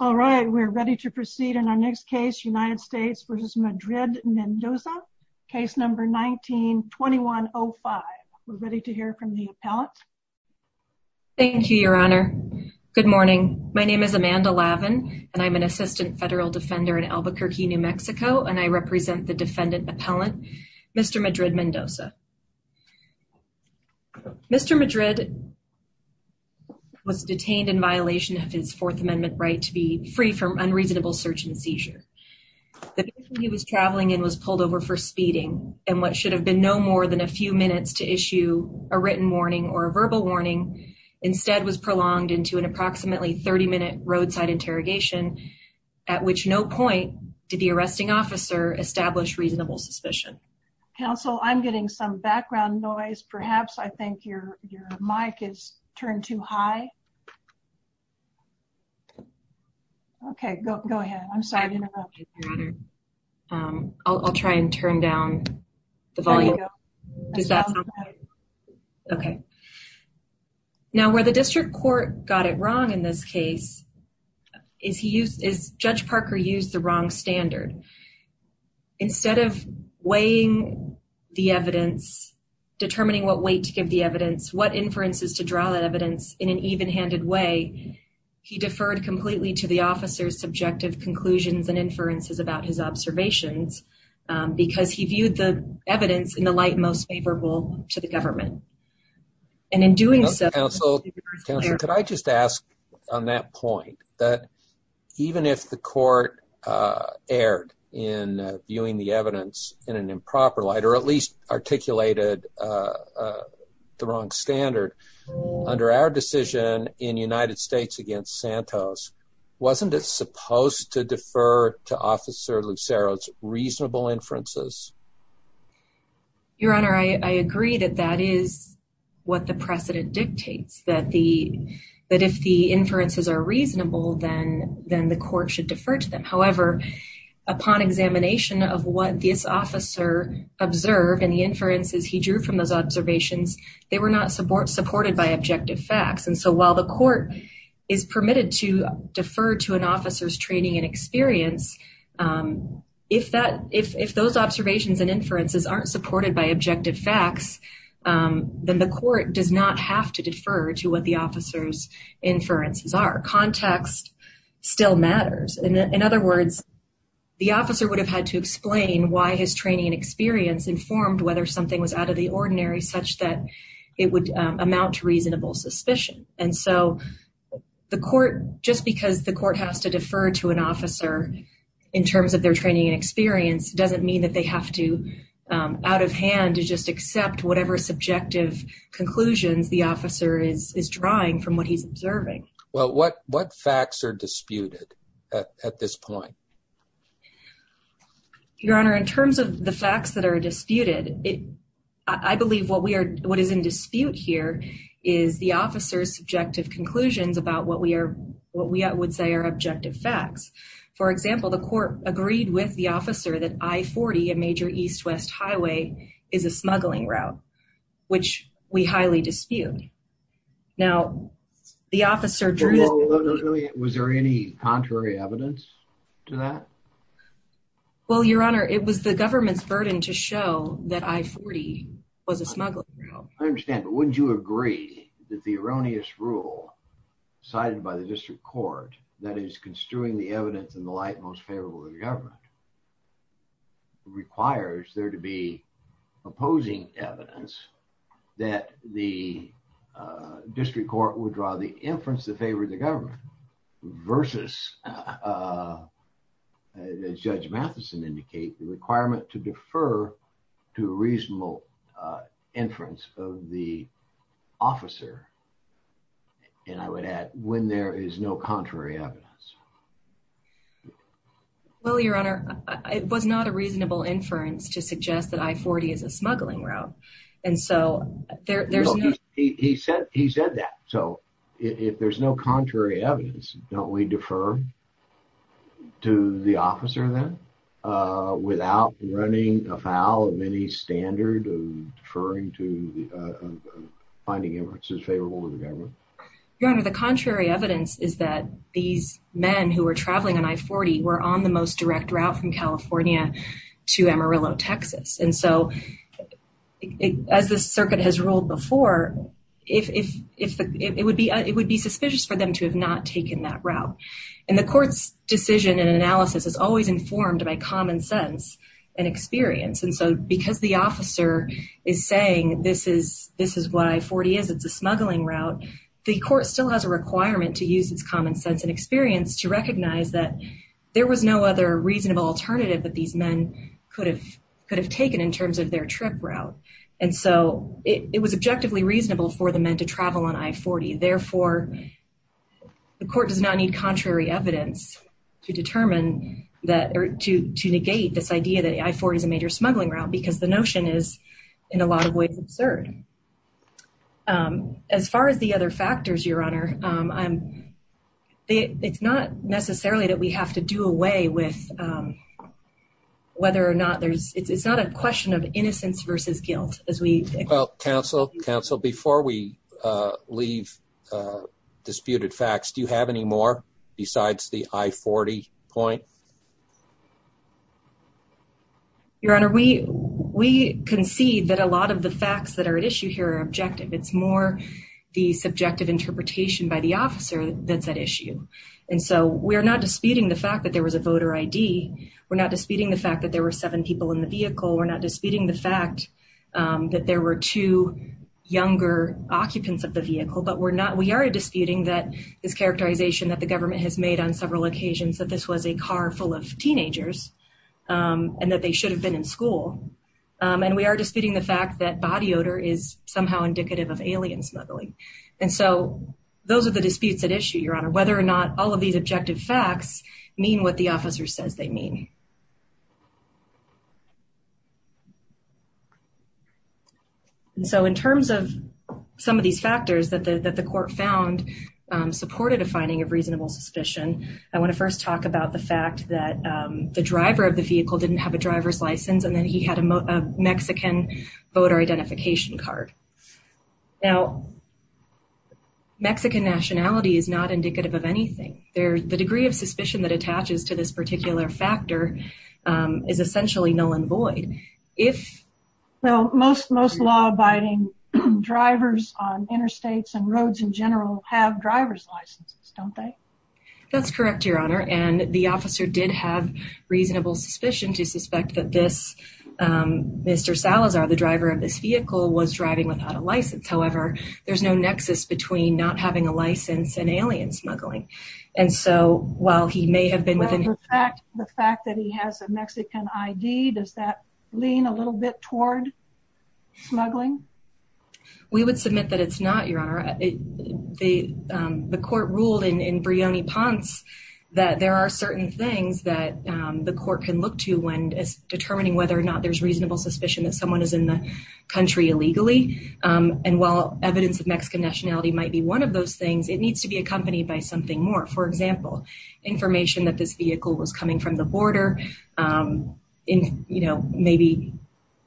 All right, we're ready to proceed in our next case, United States v. Madrid-Mendoza, case number 19-2105. We're ready to hear from the appellant. Thank you, Your Honor. Good morning. My name is Amanda Lavin, and I'm an assistant federal defender in Albuquerque, New Mexico, and I represent the defendant appellant, Mr. Madrid-Mendoza. Mr. Madrid was detained in violation of his Fourth Amendment right to be free from unreasonable search and seizure. The vehicle he was traveling in was pulled over for speeding, and what should have been no more than a few minutes to issue a written warning or a verbal warning instead was prolonged into an approximately 30-minute roadside interrogation, at which no point did the arresting officer establish reasonable suspicion. Counsel, I'm getting some background noise. Perhaps I think your mic is turned too high. Okay, go ahead. I'm sorry to interrupt. I'll try and turn down the volume. Okay. Now, where the district court got it wrong in this case is Judge Parker used the wrong standard. Instead of weighing the evidence, determining what weight to give the evidence, what inferences to draw that evidence in an even-handed way, he deferred completely to the officer's subjective conclusions and inferences about his observations because he viewed the evidence in the light most that even if the court erred in viewing the evidence in an improper light or at least articulated the wrong standard, under our decision in United States against Santos, wasn't it supposed to defer to Officer Lucero's reasonable inferences? Your Honor, I agree that that is what the precedent dictates, that if the inferences are reasonable, then the court should defer to them. However, upon examination of what this officer observed and the inferences he drew from those observations, they were not supported by objective facts. And so while the court is permitted to defer to an officer's training and experience, if those observations and inferences aren't supported by objective facts, then the court does not have to defer to what the officer's inferences are. Context still matters. In other words, the officer would have had to explain why his training and experience informed whether something was out of the ordinary such that it would amount to reasonable suspicion. And so the court, just because the court has to defer to an officer in terms of their training and experience, doesn't mean that they have to out of hand to just accept whatever subjective conclusions the officer is drawing from what he's observing. Well, what facts are disputed at this point? Your Honor, in terms of the facts that are disputed, I believe what is in dispute here is the officer's subjective conclusions about what we would say are objective facts. For example, the court agreed with the officer that I-40, a major east-west highway, is a smuggling route, which we highly dispute. Now, the officer drew... Was there any contrary evidence to that? Well, Your Honor, it was the government's burden to show that I-40 was a smuggling route. I understand, but wouldn't you agree that the erroneous rule cited by the district court, that is construing the evidence in the light most favorable to the government, requires there to be opposing evidence that the district court would draw the inference in favor of the government versus, as Judge Matheson indicated, the requirement to when there is no contrary evidence? Well, Your Honor, it was not a reasonable inference to suggest that I-40 is a smuggling route, and so there's no... He said that. So, if there's no contrary evidence, don't we defer to the officer then without running afoul of any standard of finding inferences favorable to the government? Your Honor, the contrary evidence is that these men who were traveling on I-40 were on the most direct route from California to Amarillo, Texas. And so, as the circuit has ruled before, it would be suspicious for them to have not taken that route. And the court's decision and analysis is always informed by common sense and experience. And so, because the officer is saying this is what I-40 is, it's a smuggling route, the court still has a requirement to use its common sense and experience to recognize that there was no other reasonable alternative that these men could have taken in terms of their trip route. And so, it was objectively reasonable for the men to travel on I-40. Therefore, the court does not need contrary evidence to negate this idea that I-40 is a major smuggling route because the notion is, in a lot of ways, absurd. As far as the other factors, Your Honor, it's not necessarily that we have to do away with whether or not there's, it's not a question of innocence versus guilt as we- Well, counsel, counsel, before we leave disputed facts, do you have any more besides the I-40 point? Your Honor, we concede that a lot of the facts that are at issue here are objective. It's more the subjective interpretation by the officer that's at issue. And so, we're not disputing the fact that there was a voter ID. We're not disputing the fact that there were seven people in the vehicle. We're not disputing the fact that there were two younger occupants of the vehicle. But we're not, we are disputing that this characterization that the government has made on several occasions that this was a car full of teenagers and that they should have been in school. And we are disputing the fact that body odor is somehow indicative of alien smuggling. And so, those are the disputes at issue, Your Honor, whether or not all of these objective facts mean what the officer says they mean. And so, in terms of some of these factors that the court found supported a finding of I want to first talk about the fact that the driver of the vehicle didn't have a driver's license and then he had a Mexican voter identification card. Now, Mexican nationality is not indicative of anything. The degree of suspicion that attaches to this particular factor is essentially null and void. Well, most law-abiding drivers on interstates and roads in general have driver's licenses, don't they? That's correct, Your Honor. And the officer did have reasonable suspicion to suspect that this, Mr. Salazar, the driver of this vehicle, was driving without a license. However, there's no nexus between not having a license and alien smuggling. And so, while he may have been within- Well, the fact that he has a Mexican ID, does that lean a little bit toward smuggling? We would submit that it's not, Your Honor. The court ruled in Brioni-Ponce that there are certain things that the court can look to when determining whether or not there's reasonable suspicion that someone is in the country illegally. And while evidence of Mexican nationality might be one of those things, it needs to be accompanied by something more. For example, information that this vehicle was coming from the border and maybe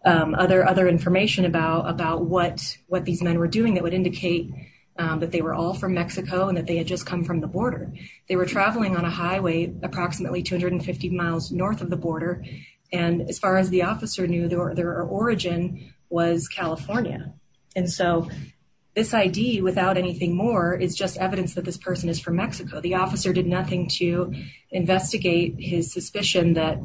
other information about what these men were doing that would indicate that they were all from Mexico and that they had just come from the border. They were traveling on a highway approximately 250 miles north of the border, and as far as the officer knew, their origin was California. And so, this ID, without anything more, is just evidence that this person is from Mexico. The officer did nothing to investigate his suspicion that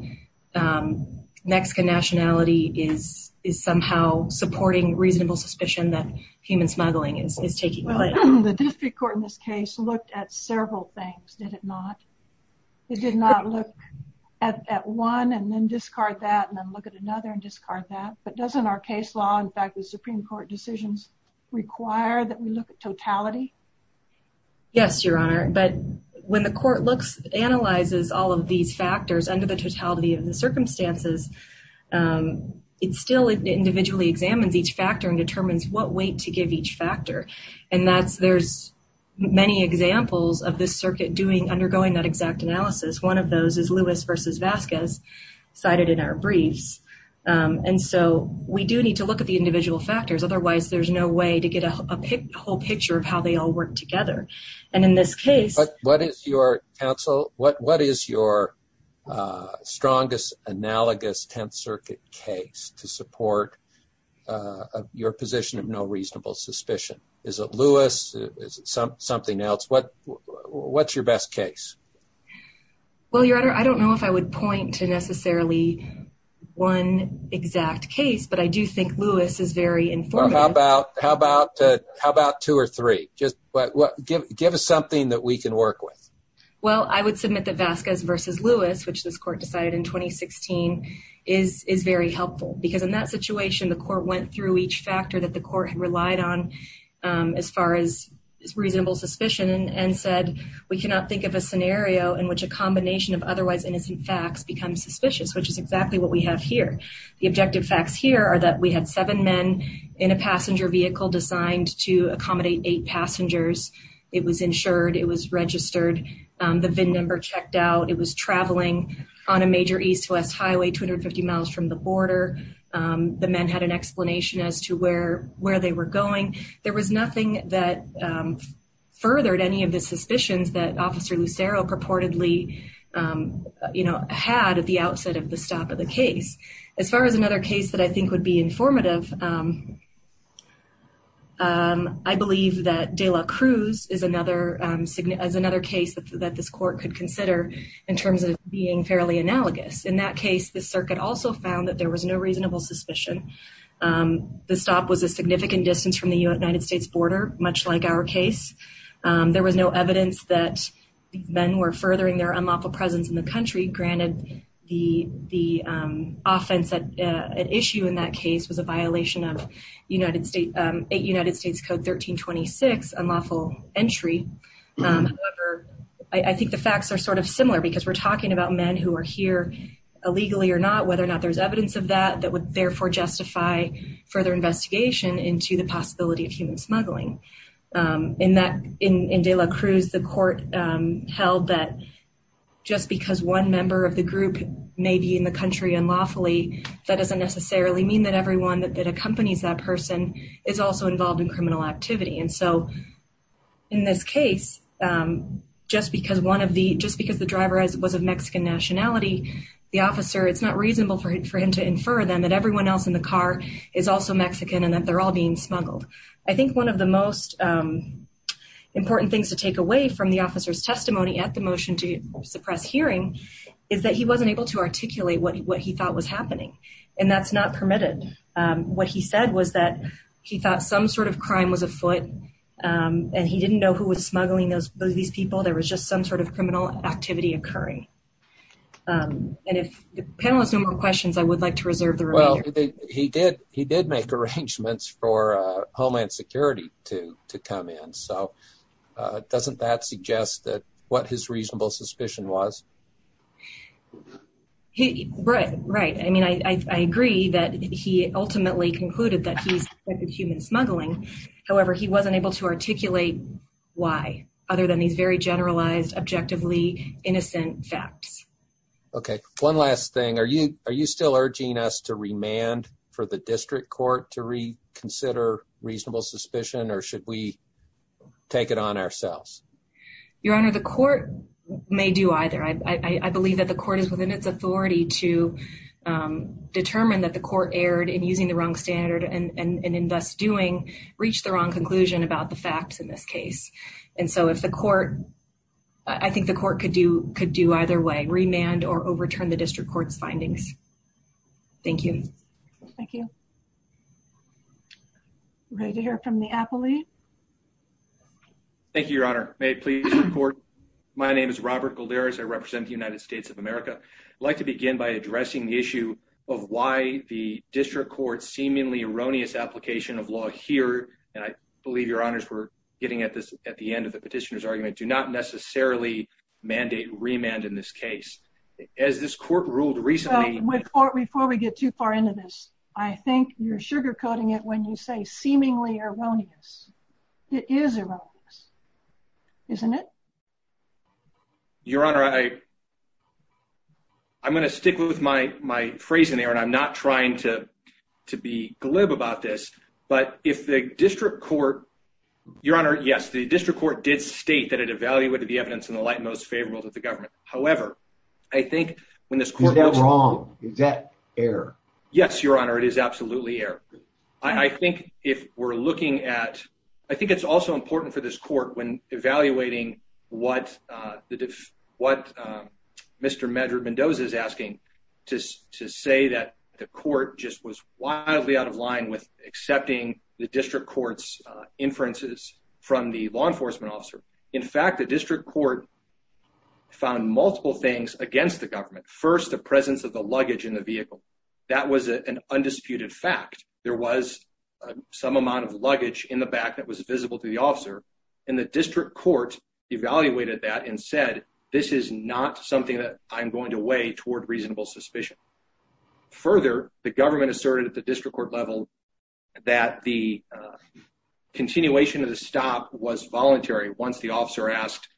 Mexican nationality is somehow supporting reasonable suspicion that human smuggling is taking place. The district court in this case looked at several things, did it not? It did not look at one and then discard that and then look at another and discard that. But doesn't our case law, in fact, the Supreme Court decisions require that we look at totality? Yes, Your Honor. But when the court looks, analyzes all of these factors under the totality of the circumstances, it still individually examines each factor and determines what weight to give each factor. And that's, there's many examples of this circuit doing, undergoing that exact analysis. One of those is Lewis versus Vasquez cited in our briefs. And so, we do need to look at the individual factors. Otherwise, there's no way to get a whole picture of how they all work together. And in this case- But what is your counsel, what is your strongest analogous 10th Circuit case to support your position of no reasonable suspicion? Is it Lewis? Is it something else? What's your best case? Well, Your Honor, I don't know if I would point to necessarily one exact case, but I do think Lewis is very informative. Well, how about two or three? Just give us something that we can work with. Well, I would submit that Vasquez versus Lewis, which this court decided in 2016, is very helpful. Because in that situation, the court went through each factor that the court had relied on as far as reasonable suspicion and said, we cannot think of a scenario in which a combination of otherwise innocent facts becomes suspicious, which is exactly what we have here. The objective facts here are that we had seven men in a passenger vehicle designed to accommodate eight passengers. It was insured. It was registered. The VIN number checked out. It was traveling on a major east-west highway, 250 miles from the border. The men had an explanation as to where they were going. There was nothing that furthered any of the suspicions that Officer Lucero purportedly had at the outset of the stop of the case. As far as another case that I think would be informative, I believe that de la Cruz is another case that this court could consider in terms of being fairly analogous. In that case, the circuit also found that there was no reasonable suspicion. The stop was a significant distance from the United States border, much like our case. There was no evidence that men were furthering their unlawful presence in the country. Granted, the offense at issue in that case was a violation of 8 United States Code 1326, unlawful entry. However, I think the facts are sort of similar because we're talking about men who are here illegally or not, whether or not there's evidence of that that would therefore justify further investigation into the possibility of human smuggling. In de la Cruz, the court held that just because one member of the group may be in the country unlawfully, that doesn't necessarily mean that everyone that accompanies that person is also involved in criminal activity. And so in this case, just because the driver was of Mexican nationality, the officer, it's not reasonable for him to infer then that everyone else in the car is also Mexican and that they're all being smuggled. I think one of the most important things to take away from the officer's testimony at the motion to suppress hearing is that he wasn't able to articulate what he thought was happening. And that's not permitted. What he said was that he thought some sort of crime was afoot and he didn't know who was smuggling these people. There was just some sort of criminal activity occurring. And if the panel has no more questions, I would like to reserve the remainder. He did make arrangements for Homeland Security to come in. So doesn't that suggest what his reasonable suspicion was? Right. I mean, I agree that he ultimately concluded that he suspected human smuggling. However, he wasn't able to articulate why, other than these very generalized, objectively innocent facts. Okay. One last thing. Are you still urging us to remand for the district court to reconsider reasonable suspicion or should we take it on ourselves? Your Honor, the court may do either. I believe that the court is within its authority to determine that the court erred in using the wrong standard and in thus doing reach the wrong conclusion about the facts in this case. And so if the court, I think the court could do either way, remand or overturn the district court's findings. Thank you. Thank you. Ready to hear from the appellee. Thank you, Your Honor. May it please the court. My name is Robert Golderis. I represent the United States of America. I'd like to begin by addressing the issue of why the district court's seemingly erroneous application of law here. And I believe your honors were getting at this at the end of the petitioner's argument, do not necessarily mandate remand in this case. As this court ruled recently, before we get too far into this, I think you're sugarcoating it when you say seemingly erroneous. It is erroneous, isn't it? Your Honor, I, I'm going to stick with my, my phrasing there, and I'm not trying to, to be glib about this, but if the district court, Your Honor, yes, the district court did state that it evaluated the evidence in the light most favorable to the government. However, I think when this court goes wrong, is that error? Yes, Your Honor, it is absolutely error. I think if we're looking at, I think it's also important for this court when evaluating what the, what Mr. Medra-Mendoza is asking to, to say that the court just was wildly out of line with accepting the district court's inferences from the law enforcement officer. In fact, the district court found multiple things against the government. First, the presence of the luggage in the vehicle. That was an undisputed fact. There was some amount of luggage in the back that was visible to the officer. And the district court evaluated that and said, this is not something that I'm going to weigh toward reasonable suspicion. Further, the government asserted at the district court level that the continuation of the stop was voluntary once the officer asked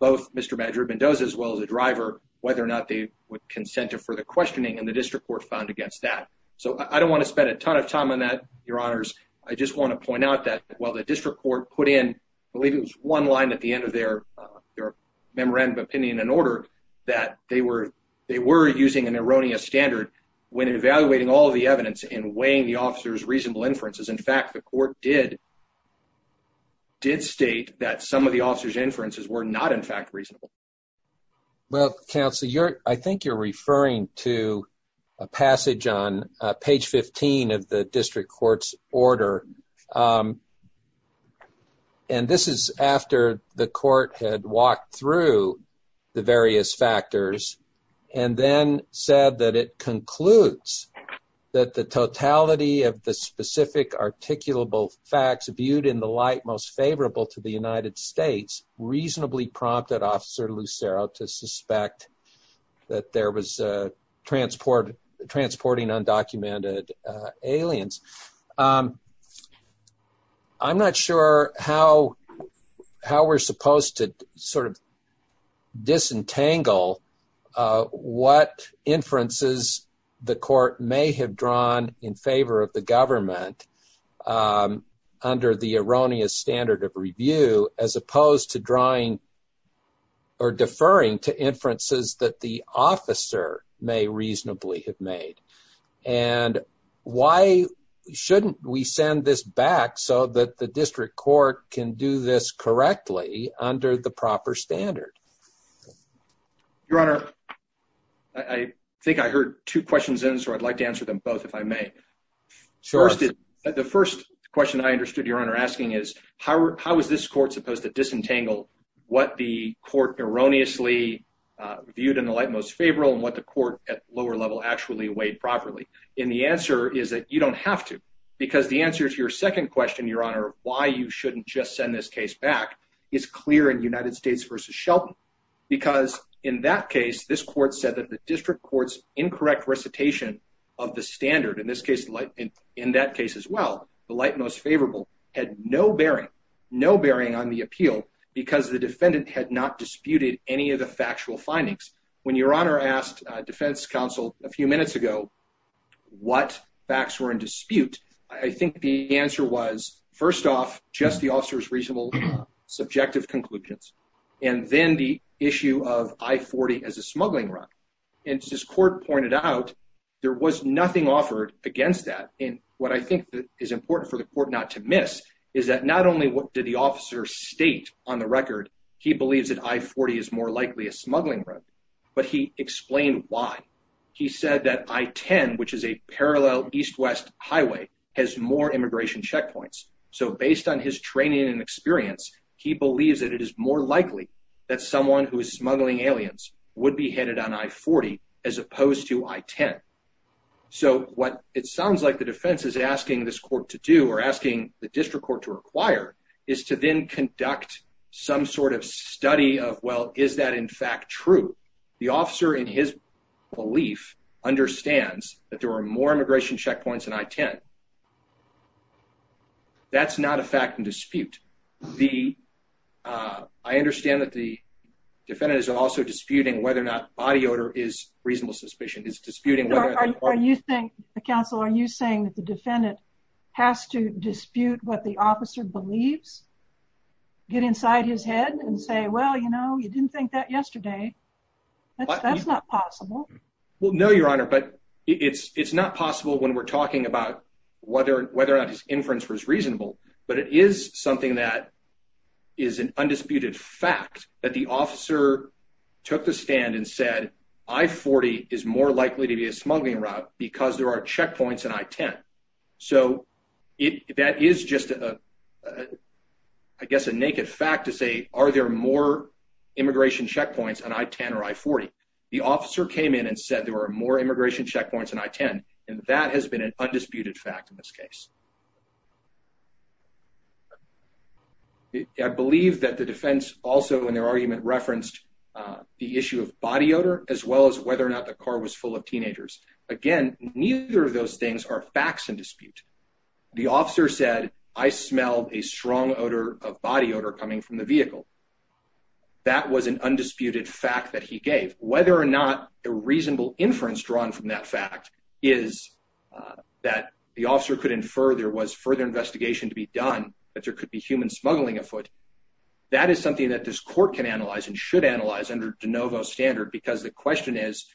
both Mr. Medra-Mendoza, as well as the driver, whether or not they would consent to further questioning, and the district court found against that. So I don't want to spend a ton of time on that, Your Honors. I just want to point out that while the district court put in, I believe it was one line at the end of their, their memorandum of opinion and order, that they were, they were using an erroneous standard when evaluating all of the evidence and weighing the officer's reasonable inferences. In fact, the court did, did state that some of the officer's inferences were not in fact reasonable. Well, Counselor, you're, I think you're referring to a passage on page 15 of the district court's order. And this is after the court had walked through the various factors and then said that it concludes that the totality of the specific articulable facts viewed in the light most favorable to the United States reasonably prompted Officer Lucero to suspect that there was a transport, transporting undocumented aliens. I'm not sure how, how we're supposed to sort of disentangle what inferences the court may have drawn in favor of the government under the erroneous standard of review, as opposed to drawing or deferring to inferences that the officer may reasonably have made. And why shouldn't we send this back so that the district court can do this correctly under the proper standard? Your Honor, I think I heard two questions in, so I'd like to answer them both, if I may. The first question I understood your Honor asking is how, how was this court supposed to disentangle what the court erroneously viewed in the light most favorable and what the court at lower level actually weighed properly? And the answer is that you don't have to, because the answer to your second question, your Honor, why you shouldn't just send this case back is clear in United States versus Shelton. Because in that case, this court said that the district court's incorrect recitation of the standard, in this case, in that case as well, the light most favorable had no bearing, no bearing on the appeal because the defendant had not disputed any of the factual findings. When your Honor asked defense counsel a few minutes ago what facts were in dispute, I think the answer was, first off, just the officer's reasonable subjective conclusions. And then the issue of I-40 as a smuggling run. And as this court pointed out, there was nothing offered against that. And what I think is important for the court not to miss is that not only did the officer state on the record he believes that I-40 is more likely a smuggling run, but he explained why. He said that I-10, which is a parallel east-west highway, has more immigration checkpoints. So based on his training and experience, he believes that it is more likely that someone who is smuggling aliens would be headed on I-40 as opposed to I-10. So what it sounds like the defense is asking this court to do or asking the district court to require is to then conduct some sort of study of, well, is that, in fact, true? The officer, in his belief, understands that there are more immigration checkpoints in I-10. That's not a fact in dispute. I understand that the defendant is also disputing whether or not body odor is reasonable suspicion. The counsel, are you saying that the defendant has to dispute what the officer believes, get inside his head, and say, well, you know, you didn't think that yesterday? That's not possible. Well, no, Your Honor. But it's not possible when we're talking about whether or not his inference was reasonable. But it is something that is an undisputed fact that the officer took the stand and said I-40 is more likely to be a smuggling route because there are checkpoints in I-10. So that is just, I guess, a naked fact to say, are there more immigration checkpoints on I-10 or I-40? The officer came in and said there were more immigration checkpoints in I-10, and that has been an undisputed fact in this case. The issue of body odor, as well as whether or not the car was full of teenagers. Again, neither of those things are facts in dispute. The officer said, I smelled a strong odor of body odor coming from the vehicle. That was an undisputed fact that he gave. Whether or not a reasonable inference drawn from that fact is that the officer could infer there was further investigation to be done, that there could be human smuggling afoot. That is something that this court can analyze and should analyze under de novo standard, because the question is,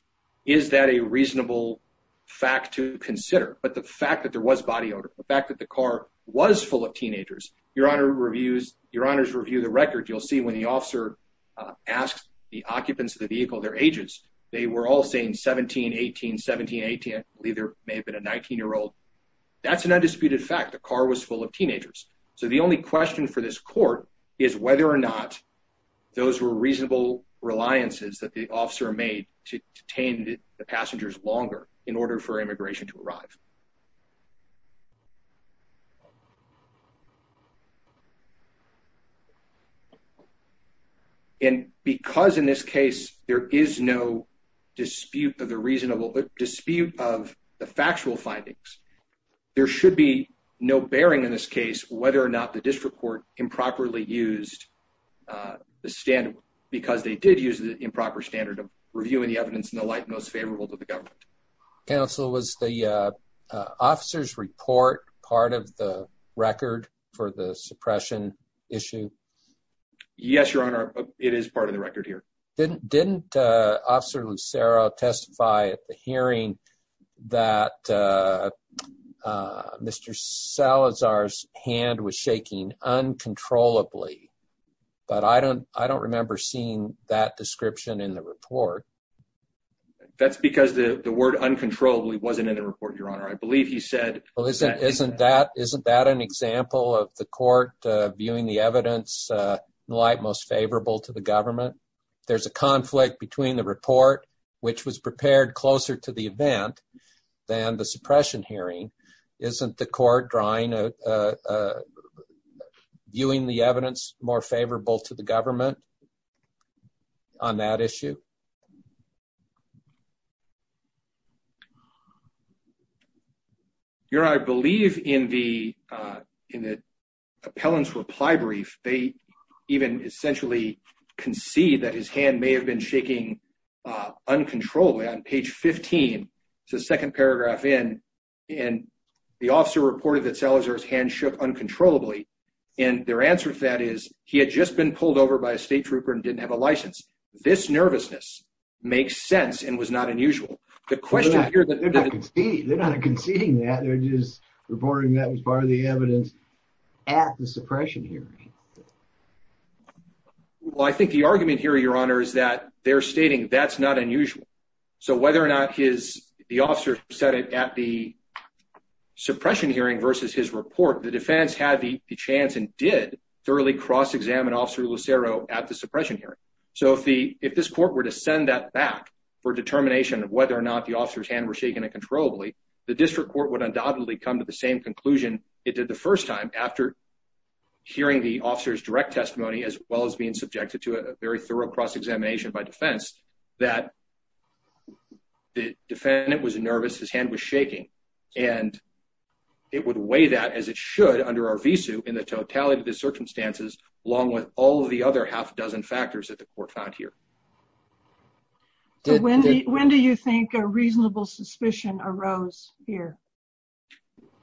is that a reasonable fact to consider? But the fact that there was body odor, the fact that the car was full of teenagers, your honor reviews, your honors review the record. You'll see when the officer asked the occupants of the vehicle, their ages, they were all saying 17, 18, 17, 18. I believe there may have been a 19-year-old. The car was full of teenagers. So the only question for this court is whether or not those were reasonable reliances that the officer made to detain the passengers longer in order for immigration to arrive. And because in this case, there is no dispute of the reasonable dispute of the factual findings, there should be no bearing in this case, whether or not the district court improperly used the standard, because they did use the improper standard of reviewing the evidence in the light most favorable to the government. Counsel, was the officer's report part of the record for the suppression issue? Yes, your honor. It is part of the record here. Didn't officer Lucero testify at the hearing that Mr. Salazar's hand was shaking uncontrollably, but I don't remember seeing that description in the report. That's because the word uncontrollably wasn't in the report, your honor. I believe he said- Well, isn't that an example of the court viewing the evidence in light most favorable to the government? There's a conflict between the report, which was prepared closer to the event than the suppression hearing. Isn't the court viewing the evidence more favorable to the government on that issue? Your honor, I believe in the appellant's reply brief, they even essentially concede that his hand may have been shaking uncontrollably. On page 15, it's the second paragraph in, the officer reported that Salazar's hand shook uncontrollably. Their answer to that is he had just been pulled over by a state trooper and didn't have a license. This nervousness makes sense and was not unusual. The question here- They're not conceding that. They're just reporting that was part of the evidence at the suppression hearing. Well, I think the argument here, your honor, is that they're stating that's not unusual. So whether or not the officer said it at the suppression hearing versus his report, the defense had the chance and did thoroughly cross-examine officer Lucero at the suppression hearing. So if this court were to send that back for determination of whether or not the officer's hand was shaking uncontrollably, the district court would undoubtedly come to the same after hearing the officer's direct testimony, as well as being subjected to a very thorough cross-examination by defense, that the defendant was nervous, his hand was shaking. And it would weigh that as it should under our visu in the totality of the circumstances, along with all of the other half a dozen factors that the court found here. When do you think a reasonable suspicion arose here?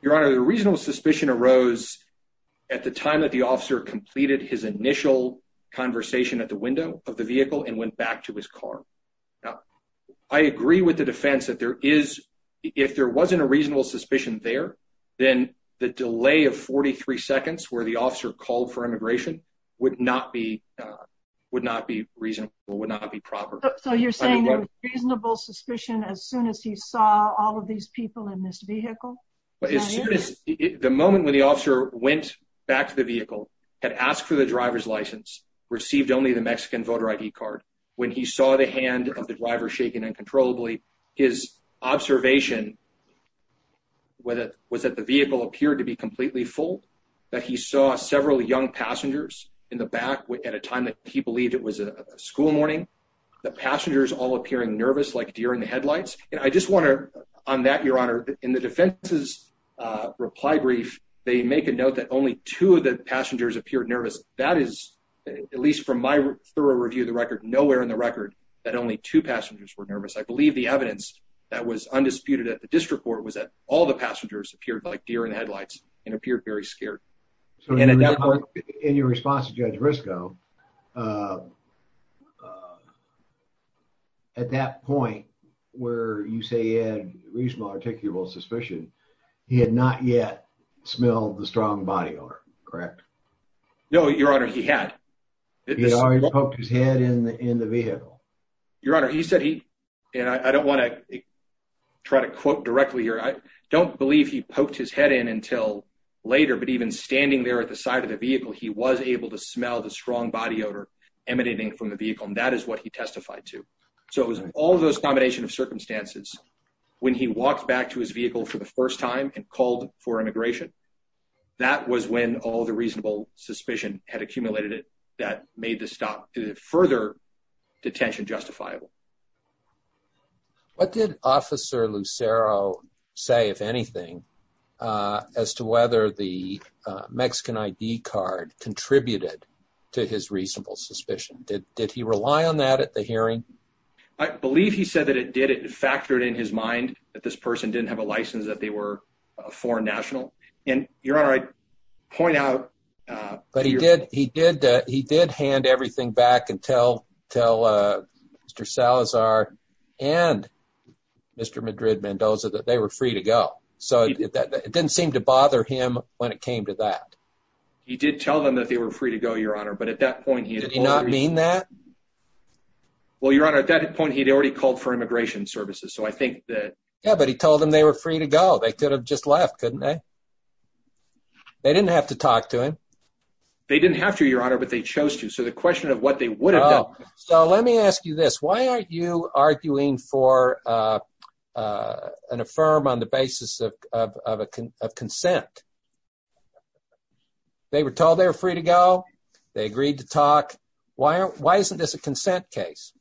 Your honor, the reasonable suspicion arose at the time that the officer completed his initial conversation at the window of the vehicle and went back to his car. Now, I agree with the defense that there is, if there wasn't a reasonable suspicion there, then the delay of 43 seconds where the officer called for immigration would not be reasonable, would not be proper. So you're saying there was reasonable suspicion as soon as he saw all of these people in this vehicle? The moment when the officer went back to the vehicle, had asked for the driver's license, received only the Mexican voter ID card, when he saw the hand of the driver shaking uncontrollably, his observation was that the vehicle appeared to be completely full, that he saw several young passengers in the back at a time that he believed it was a school morning, the passengers all appearing nervous like deer in the headlights. And I just want to, on that, your honor, in the defense's reply brief, they make a note that only two of the passengers appeared nervous. That is, at least from my thorough review of the record, nowhere in the record that only two passengers were nervous. I believe the evidence that was undisputed at the district court was that all the passengers appeared like deer in the headlights and appeared very scared. So in your response to Judge Briscoe, at that point where you say he had reasonable, articulable suspicion, he had not yet smelled the strong body odor, correct? No, your honor, he had. He already poked his head in the vehicle? Your honor, he said he, and I don't want to try to quote directly here, I don't believe he poked his head in until later, but even standing there at the side of the vehicle, he was able to smell the strong body odor emanating from the vehicle. And that is what he testified to. So it was all those combination of circumstances. When he walked back to his vehicle for the first time and called for immigration, that was when all the reasonable suspicion had accumulated that made the stop. Did it further detention justifiable? What did officer Lucero say, if anything, as to whether the Mexican ID card contributed to his reasonable suspicion? Did he rely on that at the hearing? I believe he said that it did. It factored in his mind that this person didn't have a license, that they were a foreign national. And your honor, I point out. But he did, he did, uh, he did hand everything back and tell, tell, uh, Mr. Salazar and Mr. Madrid Mendoza that they were free to go. So it didn't seem to bother him when it came to that. He did tell them that they were free to go, your honor. But at that point, he did not mean that. Well, your honor, at that point, he'd already called for immigration services. So I think that, yeah, but he told them they were free to go. They could have just left, couldn't they? They didn't have to talk to him. They didn't have to, your honor, but they chose to. So the question of what they would have done. So let me ask you this. Why aren't you arguing for, uh, uh, an affirm on the basis of, of, of, of consent? They were told they were free to go. They agreed to talk. Why aren't, why isn't this a consent case?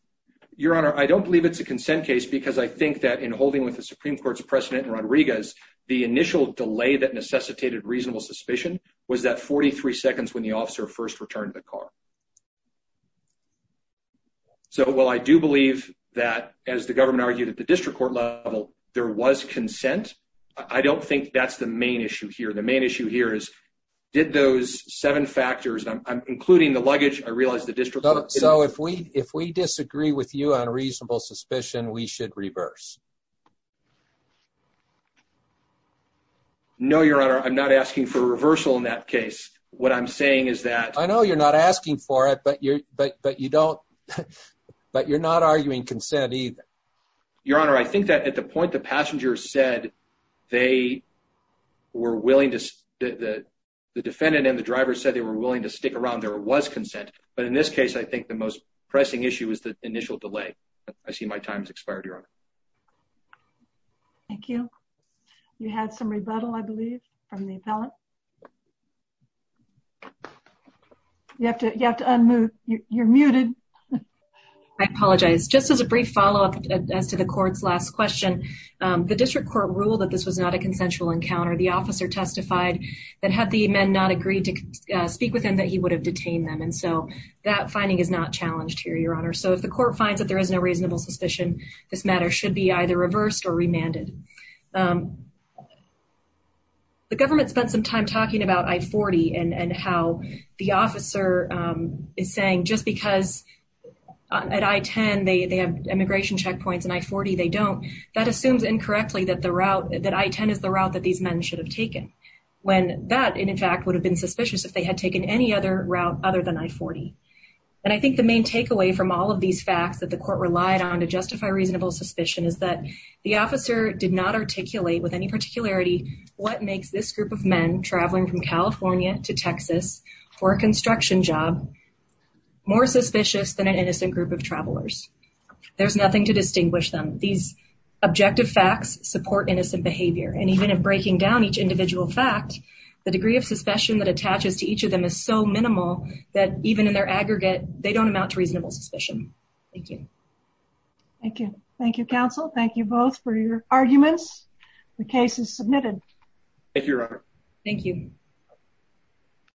Your honor, I don't believe it's a consent case because I think that in holding with the Supreme Court's precedent in Rodriguez, the initial delay that necessitated reasonable suspicion was that 43 seconds when the officer first returned to the car. So, well, I do believe that as the government argued at the district court level, there was consent. I don't think that's the main issue here. The main issue here is did those seven factors, including the luggage, I realized the district. So if we, if we disagree with you on reasonable suspicion, we should reverse. No, your honor. I'm not asking for a reversal in that case. What I'm saying is that I know you're not asking for it, but you're, but, but you don't, but you're not arguing consent either. Your honor. I think that at the point, the passenger said they were willing to, the defendant and the driver said they were willing to stick around. There was consent. But in this case, I think the most pressing issue is the initial delay. I see my time has expired. Your honor. Thank you. You had some rebuttal, I believe from the appellant. You have to, you have to unmute. You're muted. I apologize. Just as a brief follow up as to the court's last question, the district court ruled that this was not a consensual encounter. The officer testified that had the men not agreed to speak with him, that he would have detained them. And so that finding is not challenged here, your honor. So if the court finds that there is no reasonable suspicion, this matter should be reversed. Should be either reversed or remanded. The government spent some time talking about I-40 and how the officer is saying just because at I-10 they have immigration checkpoints and I-40 they don't. That assumes incorrectly that the route, that I-10 is the route that these men should have taken. When that in fact would have been suspicious if they had taken any other route other than I-40. And I think the main takeaway from all of these facts that the court relied on to justify reasonable suspicion is that the officer did not articulate with any particularity what makes this group of men traveling from California to Texas for a construction job more suspicious than an innocent group of travelers. There's nothing to distinguish them. These objective facts support innocent behavior. And even if breaking down each individual fact, the degree of suspicion that attaches to each of them is so minimal that even in their aggregate, they don't amount to reasonable suspicion. Thank you. Thank you. Thank you, counsel. Thank you both for your arguments. The case is submitted. Thank you, Your Honor. Thank you.